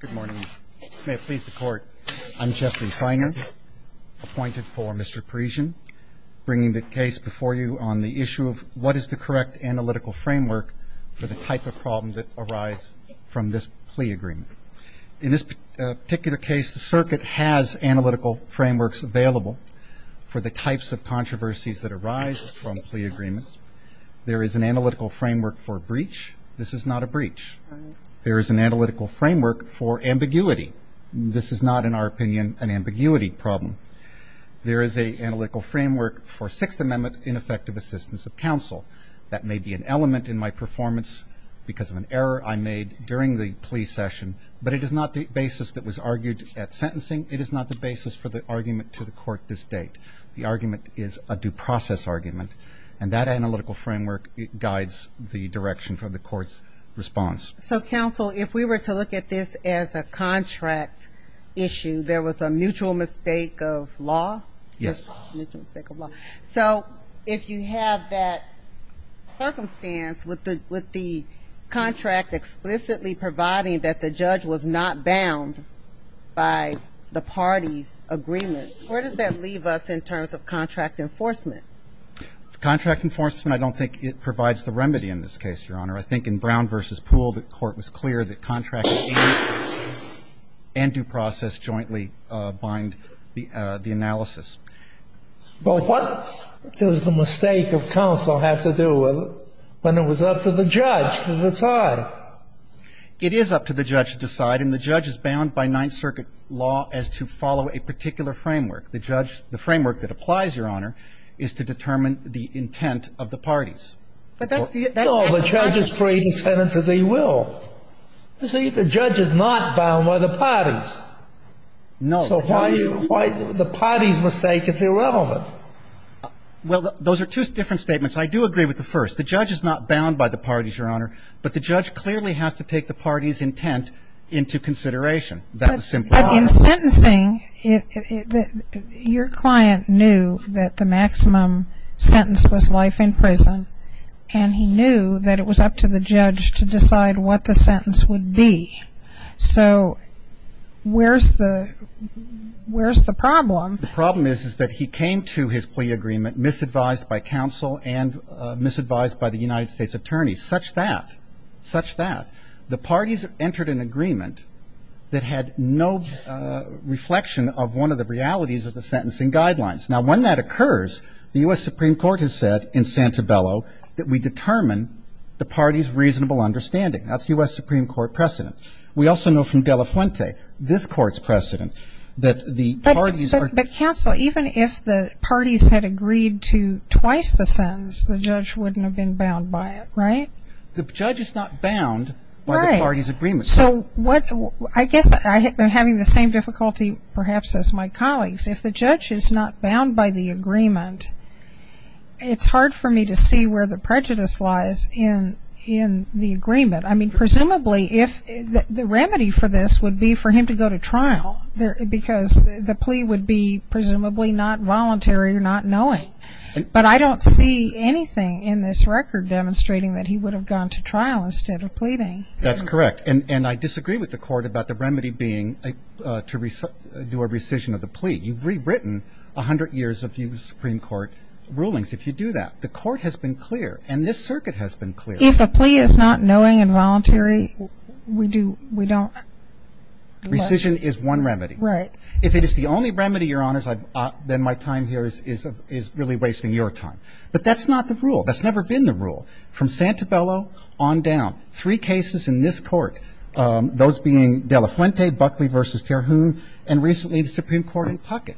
Good morning. May it please the court, I'm Jesse Feiner, appointed for Mr. Parisien, bringing the case before you on the issue of what is the correct analytical framework for the type of problem that arises from this plea agreement. In this particular case, the circuit has analytical frameworks available for the types of controversies that arise from plea agreements. There is an analytical framework for a breach. This is not a breach. There is an analytical framework for ambiguity. This is not, in our opinion, an ambiguity problem. There is an analytical framework for Sixth Amendment ineffective assistance of counsel. That may be an element in my performance because of an error I made during the plea session, but it is not the basis that was argued at sentencing. It is not the basis for the argument to the court this date. The argument is a due process argument, and that analytical framework guides the direction for the court's response. So, counsel, if we were to look at this as a contract issue, there was a mutual mistake of law? Yes. So if you have that circumstance with the contract explicitly providing that the judge was not bound by the party's agreement, where does that leave us in terms of contract enforcement? Contract enforcement, I don't think it provides the remedy in this case, Your Honor. I think in Brown v. Poole, the court was clear that contract and due process jointly bind the analysis. But what does the mistake of counsel have to do with it when it was up to the judge to decide? It is up to the judge to decide, and the judge is bound by Ninth Circuit law as to follow a particular framework. The framework that applies, Your Honor, is to determine the intent of the parties. No, the judge is free to sentence as he will. You see, the judge is not bound by the parties. No. So why the party's mistake is irrelevant? Well, those are two different statements. I do agree with the first. The judge is not bound by the parties, Your Honor, but the judge clearly has to take the party's intent into consideration. That was simple. But in sentencing, your client knew that the maximum sentence was life in prison, and he knew that it was up to the judge to decide what the sentence would be. So where's the problem? The problem is, is that he came to his plea agreement misadvised by counsel and misadvised by the United States attorneys, such that, such that, the parties entered an agreement that had no reflection of one of the realities of the sentencing guidelines. Now, when that occurs, the U.S. Supreme Court has said in Santabello that we determine the party's reasonable understanding. That's U.S. Supreme Court precedent. We also know from De La Fuente, this Court's precedent, that the parties are ---- But counsel, even if the parties had agreed to twice the sentence, the judge wouldn't have been bound by it, right? The judge is not bound by the party's agreement. So what ---- I guess I'm having the same difficulty perhaps as my colleagues. If the judge is not bound by the agreement, it's hard for me to see where the prejudice lies in the agreement. I mean, presumably, the remedy for this would be for him to go to trial, because the plea would be presumably not voluntary or not knowing. But I don't see anything in this record demonstrating that he would have gone to trial instead of pleading. That's correct. And I disagree with the Court about the remedy being to do a rescission of the plea. You've rewritten 100 years of U.S. Supreme Court rulings if you do that. The Court has been clear, and this circuit has been clear. If a plea is not knowing and voluntary, we do ---- we don't ---- Rescission is one remedy. Right. If it is the only remedy, Your Honors, then my time here is really wasting your time. But that's not the rule. That's never been the rule. From Santabello on down, three cases in this Court, those being De La Fuente, Buckley v. Terhune, and recently the Supreme Court in Puckett.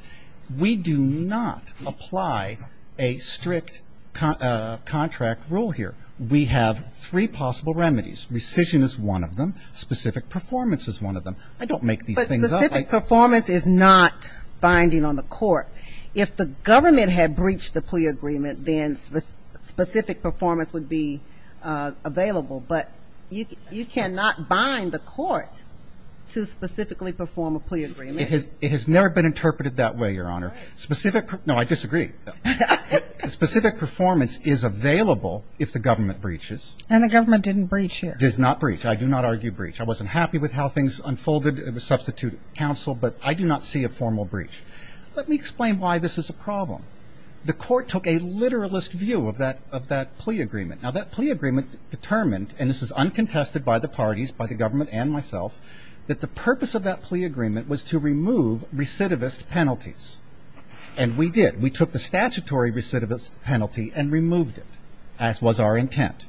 We do not apply a strict contract rule here. We have three possible remedies. Rescission is one of them. Specific performance is one of them. I don't make these things up. Specific performance is not binding on the Court. If the government had breached the plea agreement, then specific performance would be available. But you cannot bind the Court to specifically perform a plea agreement. It has never been interpreted that way, Your Honor. Right. Specific ---- no, I disagree. Specific performance is available if the government breaches. And the government didn't breach it. Does not breach. I do not argue breach. I wasn't happy with how things unfolded in the substitute counsel, but I do not see a formal breach. Let me explain why this is a problem. The Court took a literalist view of that plea agreement. Now, that plea agreement determined, and this is uncontested by the parties, by the government and myself, that the purpose of that plea agreement was to remove recidivist penalties. And we did. We took the statutory recidivist penalty and removed it, as was our intent.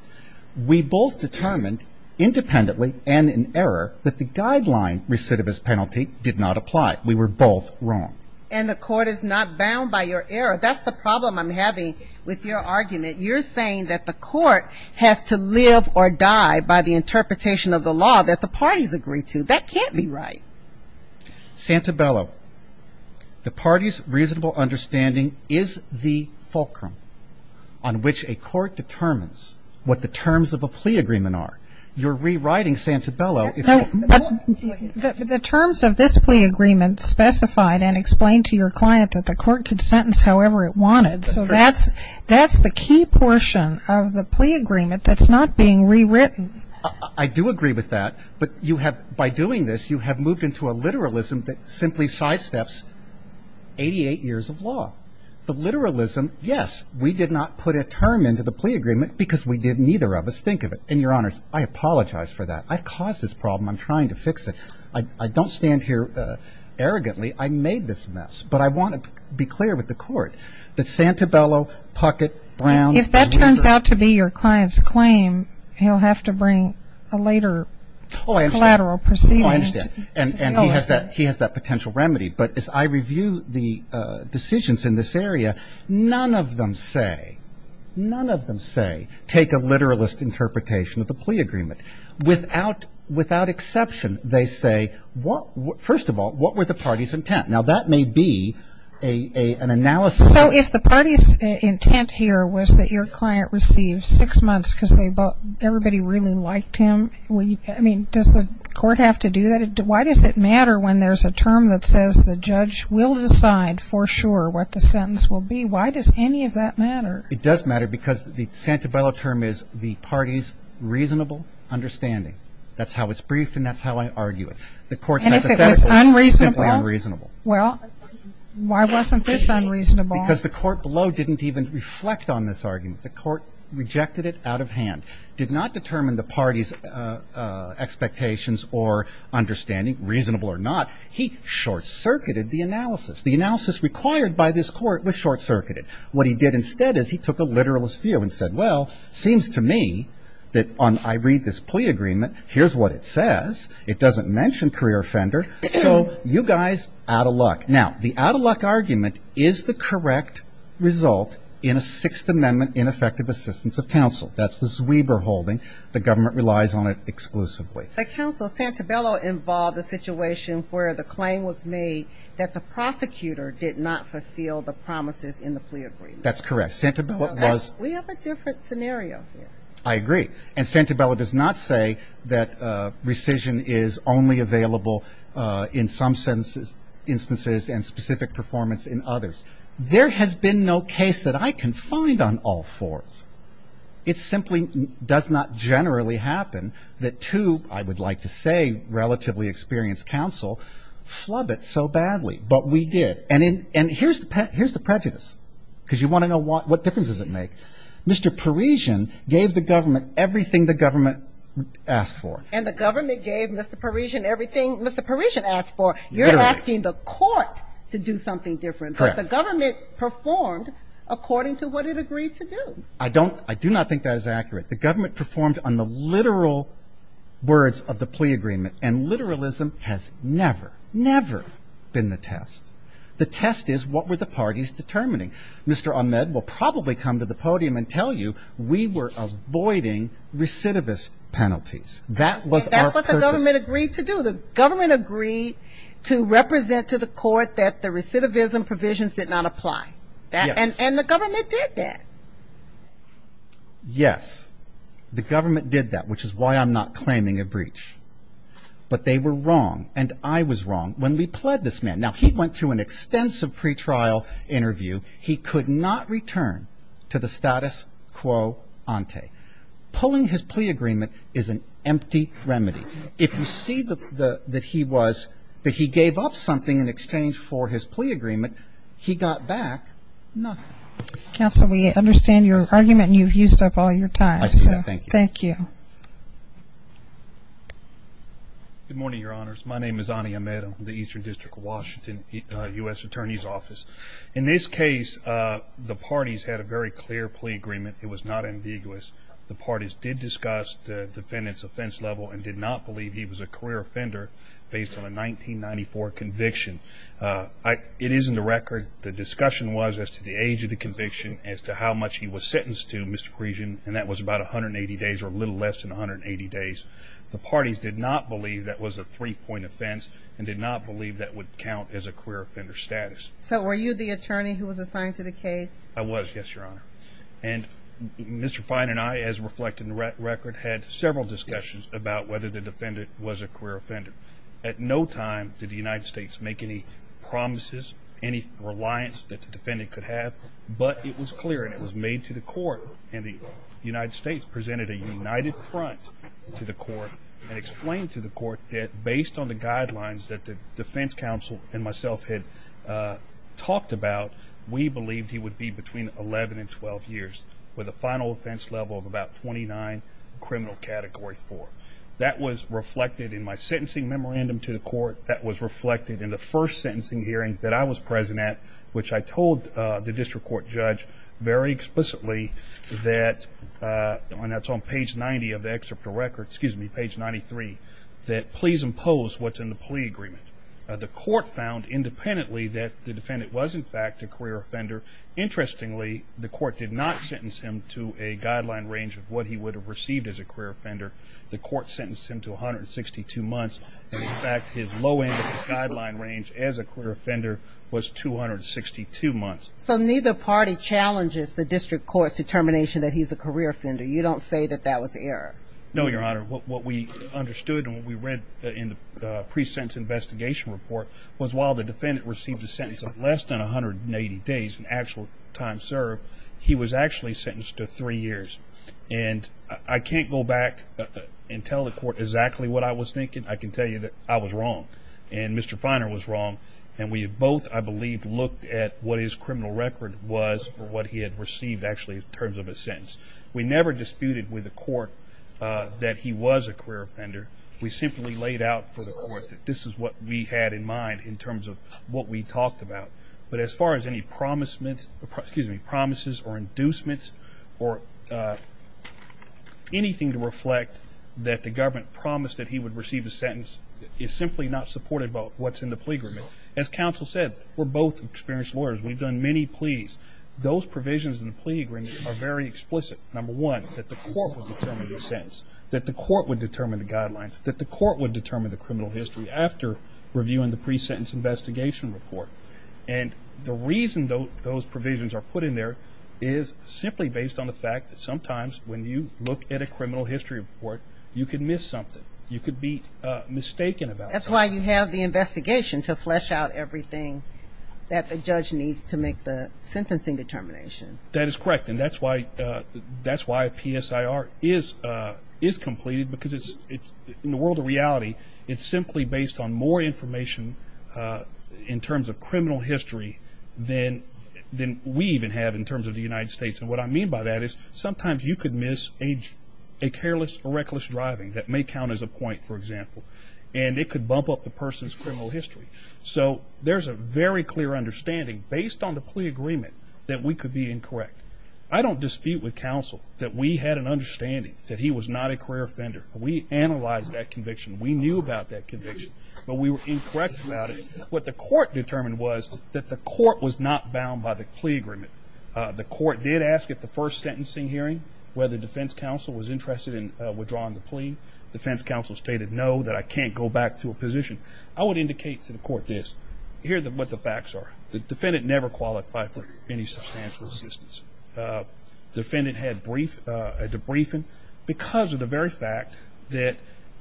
We both determined, independently and in error, that the guideline recidivist penalty did not apply. We were both wrong. And the Court is not bound by your error. That's the problem I'm having with your argument. You're saying that the Court has to live or die by the interpretation of the law that the parties agree to. That can't be right. Santabello, the parties' reasonable understanding is the fulcrum on which a court determines what the terms of a plea agreement are. You're rewriting Santabello. But the terms of this plea agreement specified and explained to your client that the Court could sentence however it wanted. So that's the key portion of the plea agreement that's not being rewritten. I do agree with that. But you have, by doing this, you have moved into a literalism that simply sidesteps 88 years of law. The literalism, yes, we did not put a term into the plea agreement because we did neither of us think of it. And, Your Honors, I apologize for that. I caused this problem. I'm trying to fix it. I don't stand here arrogantly. I made this mess. But I want to be clear with the Court that Santabello, Puckett, Brown. If that turns out to be your client's claim, he'll have to bring a later collateral proceeding. Oh, I understand. And he has that potential remedy. But as I review the decisions in this area, none of them say, none of them say take a literalist interpretation of the plea agreement. Without exception, they say, first of all, what were the party's intent? Now, that may be an analysis. So if the party's intent here was that your client received six months because everybody really liked him, I mean, does the Court have to do that? Why does it matter when there's a term that says the judge will decide for sure what the sentence will be? Why does any of that matter? It does matter because the Santabello term is the party's reasonable understanding. That's how it's briefed and that's how I argue it. And if it was unreasonable? Simply unreasonable. Well, why wasn't this unreasonable? Because the court below didn't even reflect on this argument. The court rejected it out of hand. Did not determine the party's expectations or understanding, reasonable or not. He short-circuited the analysis. The analysis required by this court was short-circuited. What he did instead is he took a literalist view and said, well, it seems to me that I read this plea agreement, here's what it says. It doesn't mention career offender. So you guys, out of luck. Now, the out-of-luck argument is the correct result in a Sixth Amendment in effective assistance of counsel. That's the Zwieber holding. The government relies on it exclusively. But, counsel, Santabello involved a situation where the claim was made that the prosecutor did not fulfill the promises in the plea agreement. That's correct. We have a different scenario here. I agree. And Santabello does not say that rescission is only available in some instances and specific performance in others. There has been no case that I can find on all fours. It simply does not generally happen that two, I would like to say, relatively experienced counsel flub it so badly. But we did. And here's the prejudice, because you want to know what differences it makes. Mr. Parisian gave the government everything the government asked for. And the government gave Mr. Parisian everything Mr. Parisian asked for. Literally. You're asking the court to do something different. Correct. But the government performed according to what it agreed to do. I do not think that is accurate. The government performed on the literal words of the plea agreement. And literalism has never, never been the test. The test is what were the parties determining. Mr. Ahmed will probably come to the podium and tell you we were avoiding recidivist penalties. That was our purpose. That's what the government agreed to do. The government agreed to represent to the court that the recidivism provisions did not apply. Yes. And the government did that. Yes. The government did that, which is why I'm not claiming a breach. But they were wrong, and I was wrong, when we pled this man. Now, he went through an extensive pretrial interview. He could not return to the status quo ante. Pulling his plea agreement is an empty remedy. If you see that he was, that he gave up something in exchange for his plea agreement, he got back nothing. Counsel, we understand your argument, and you've used up all your time. I see that. Thank you. Thank you. Good morning, Your Honors. My name is Ani Ahmed. I'm with the Eastern District of Washington U.S. Attorney's Office. In this case, the parties had a very clear plea agreement. It was not ambiguous. The parties did discuss the defendant's offense level and did not believe he was a career offender based on a 1994 conviction. It is in the record. The discussion was as to the age of the conviction, as to how much he was sentenced to, Mr. Creason, and that was about 180 days or a little less than 180 days. The parties did not believe that was a three-point offense and did not believe that would count as a career offender status. So were you the attorney who was assigned to the case? I was, yes, Your Honor. And Mr. Fine and I, as reflected in the record, had several discussions about whether the defendant was a career offender. At no time did the United States make any promises, any reliance that the defendant could have, but it was clear and it was made to the court, and the United States presented a united front to the court and explained to the court that based on the guidelines that the defense counsel and myself had talked about, we believed he would be between 11 and 12 years with a final offense level of about 29, criminal category 4. That was reflected in my sentencing memorandum to the court. That was reflected in the first sentencing hearing that I was present at, which I told the district court judge very explicitly that, and that's on page 90 of the excerpt of the record, excuse me, page 93, that please impose what's in the plea agreement. The court found independently that the defendant was, in fact, a career offender. Interestingly, the court did not sentence him to a guideline range of what he would have received as a career offender. The court sentenced him to 162 months. In fact, his low end guideline range as a career offender was 262 months. So neither party challenges the district court's determination that he's a career offender. You don't say that that was error? No, Your Honor. What we understood and what we read in the pre-sentence investigation report was while the defendant received a sentence of less than 180 days, an actual time served, he was actually sentenced to three years. And I can't go back and tell the court exactly what I was thinking. I can tell you that I was wrong and Mr. Feiner was wrong, and we both, I believe, looked at what his criminal record was for what he had received, actually, in terms of a sentence. We never disputed with the court that he was a career offender. We simply laid out for the court that this is what we had in mind in terms of what we talked about. But as far as any promises or inducements or anything to reflect that the government promised that he would receive a sentence is simply not supported by what's in the plea agreement. As counsel said, we're both experienced lawyers. We've done many pleas. Those provisions in the plea agreement are very explicit. Number one, that the court would determine the sentence, that the court would determine the guidelines, that the court would determine the criminal history after reviewing the pre-sentence investigation report. And the reason those provisions are put in there is simply based on the fact that sometimes when you look at a criminal history report, you could miss something. You could be mistaken about something. That's why you have the investigation to flesh out everything that the judge needs to make the sentencing determination. That is correct. And that's why a PSIR is completed because in the world of reality, it's simply based on more information in terms of criminal history than we even have in terms of the United States. And what I mean by that is sometimes you could miss a careless or reckless driving that may count as a point, for example, and it could bump up the person's criminal history. So there's a very clear understanding based on the plea agreement that we could be incorrect. I don't dispute with counsel that we had an understanding that he was not a career offender. We analyzed that conviction. We knew about that conviction, but we were incorrect about it. What the court determined was that the court was not bound by the plea agreement. The court did ask at the first sentencing hearing whether defense counsel was interested in withdrawing the plea. Defense counsel stated no, that I can't go back to a position. I would indicate to the court this. Here's what the facts are. The defendant never qualified for any substantial assistance. The defendant had a debriefing because of the very fact that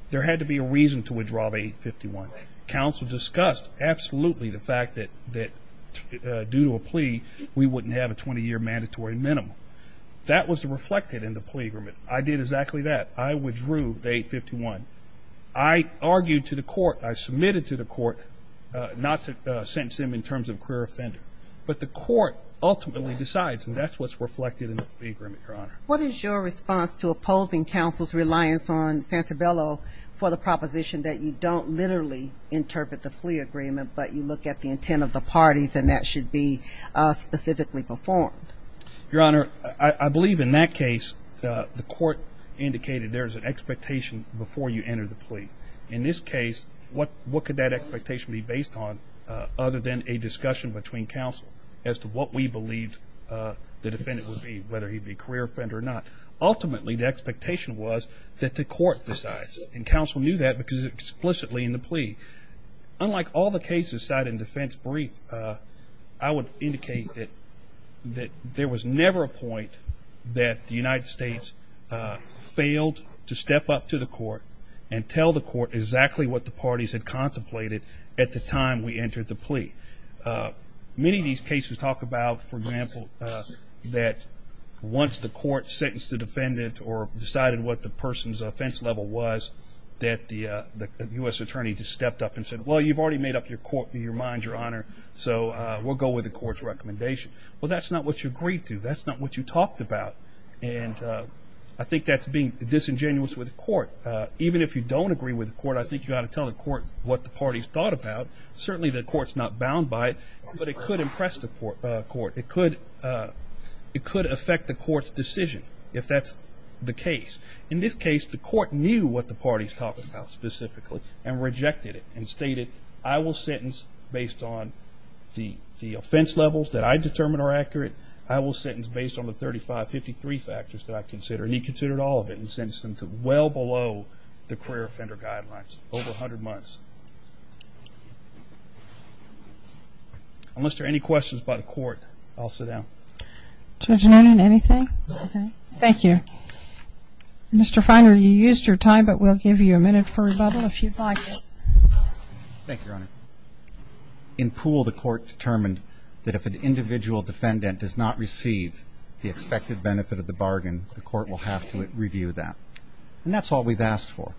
there had to be a reason to withdraw the 851. Counsel discussed absolutely the fact that due to a plea, we wouldn't have a 20-year mandatory minimum. That was reflected in the plea agreement. I did exactly that. I withdrew the 851. I argued to the court, I submitted to the court not to sentence him in terms of career offender. But the court ultimately decides, and that's what's reflected in the plea agreement, Your Honor. What is your response to opposing counsel's reliance on Santabello for the proposition that you don't literally interpret the plea agreement, but you look at the intent of the parties and that should be specifically performed? Your Honor, I believe in that case, the court indicated there's an expectation before you enter the plea. In this case, what could that expectation be based on other than a discussion between counsel as to what we believed the defendant would be, whether he'd be a career offender or not. Ultimately, the expectation was that the court decides, and counsel knew that because it was explicitly in the plea. Unlike all the cases cited in defense brief, I would indicate that there was never a point that the United States failed to step up to the court and tell the court exactly what the parties had contemplated at the time we entered the plea. Many of these cases talk about, for example, that once the court sentenced the defendant or decided what the person's offense level was, that the U.S. attorney just stepped up and said, well, you've already made up your mind, Your Honor, so we'll go with the court's recommendation. Well, that's not what you agreed to. That's not what you talked about. And I think that's being disingenuous with the court. Even if you don't agree with the court, I think you ought to tell the court what the parties thought about. Certainly the court's not bound by it, but it could impress the court. It could affect the court's decision, if that's the case. In this case, the court knew what the parties talked about specifically and rejected it and stated, I will sentence based on the offense levels that I determined are accurate. I will sentence based on the 3553 factors that I consider. And he considered all of it and sentenced them to well below the career offender guidelines, over 100 months. Unless there are any questions by the court, I'll sit down. Judge Norton, anything? No. Thank you. Mr. Finder, you used your time, but we'll give you a minute for rebuttal if you'd like it. Thank you, Your Honor. In Poole, the court determined that if an individual defendant does not receive the expected benefit of the bargain, the court will have to review that. And that's all we've asked for.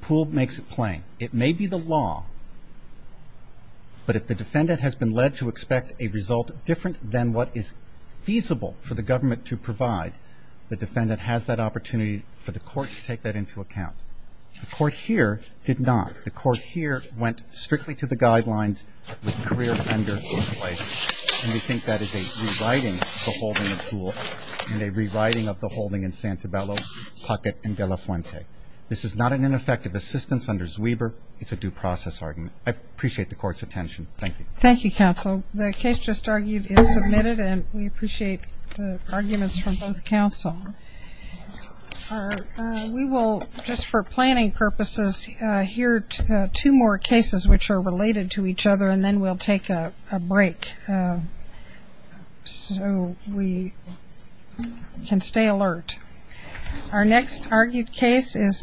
Poole makes it plain. It may be the law, but if the defendant has been led to expect a result different than what is feasible for the government to provide, the defendant has that opportunity for the court to take that into account. The court here did not. The court here went strictly to the guidelines with the career offender in place. And we think that is a rewriting of the holding of Poole and a rewriting of the holding in Santabello, Pocket, and De La Fuente. This is not an ineffective assistance under Zwieber. It's a due process argument. I appreciate the court's attention. Thank you. Thank you, counsel. The case just argued is submitted, and we appreciate the arguments from both counsel. We will, just for planning purposes, hear two more cases which are related to each other, and then we'll take a break. So we can stay alert. Our next argued case is Miller v. De La Fuente.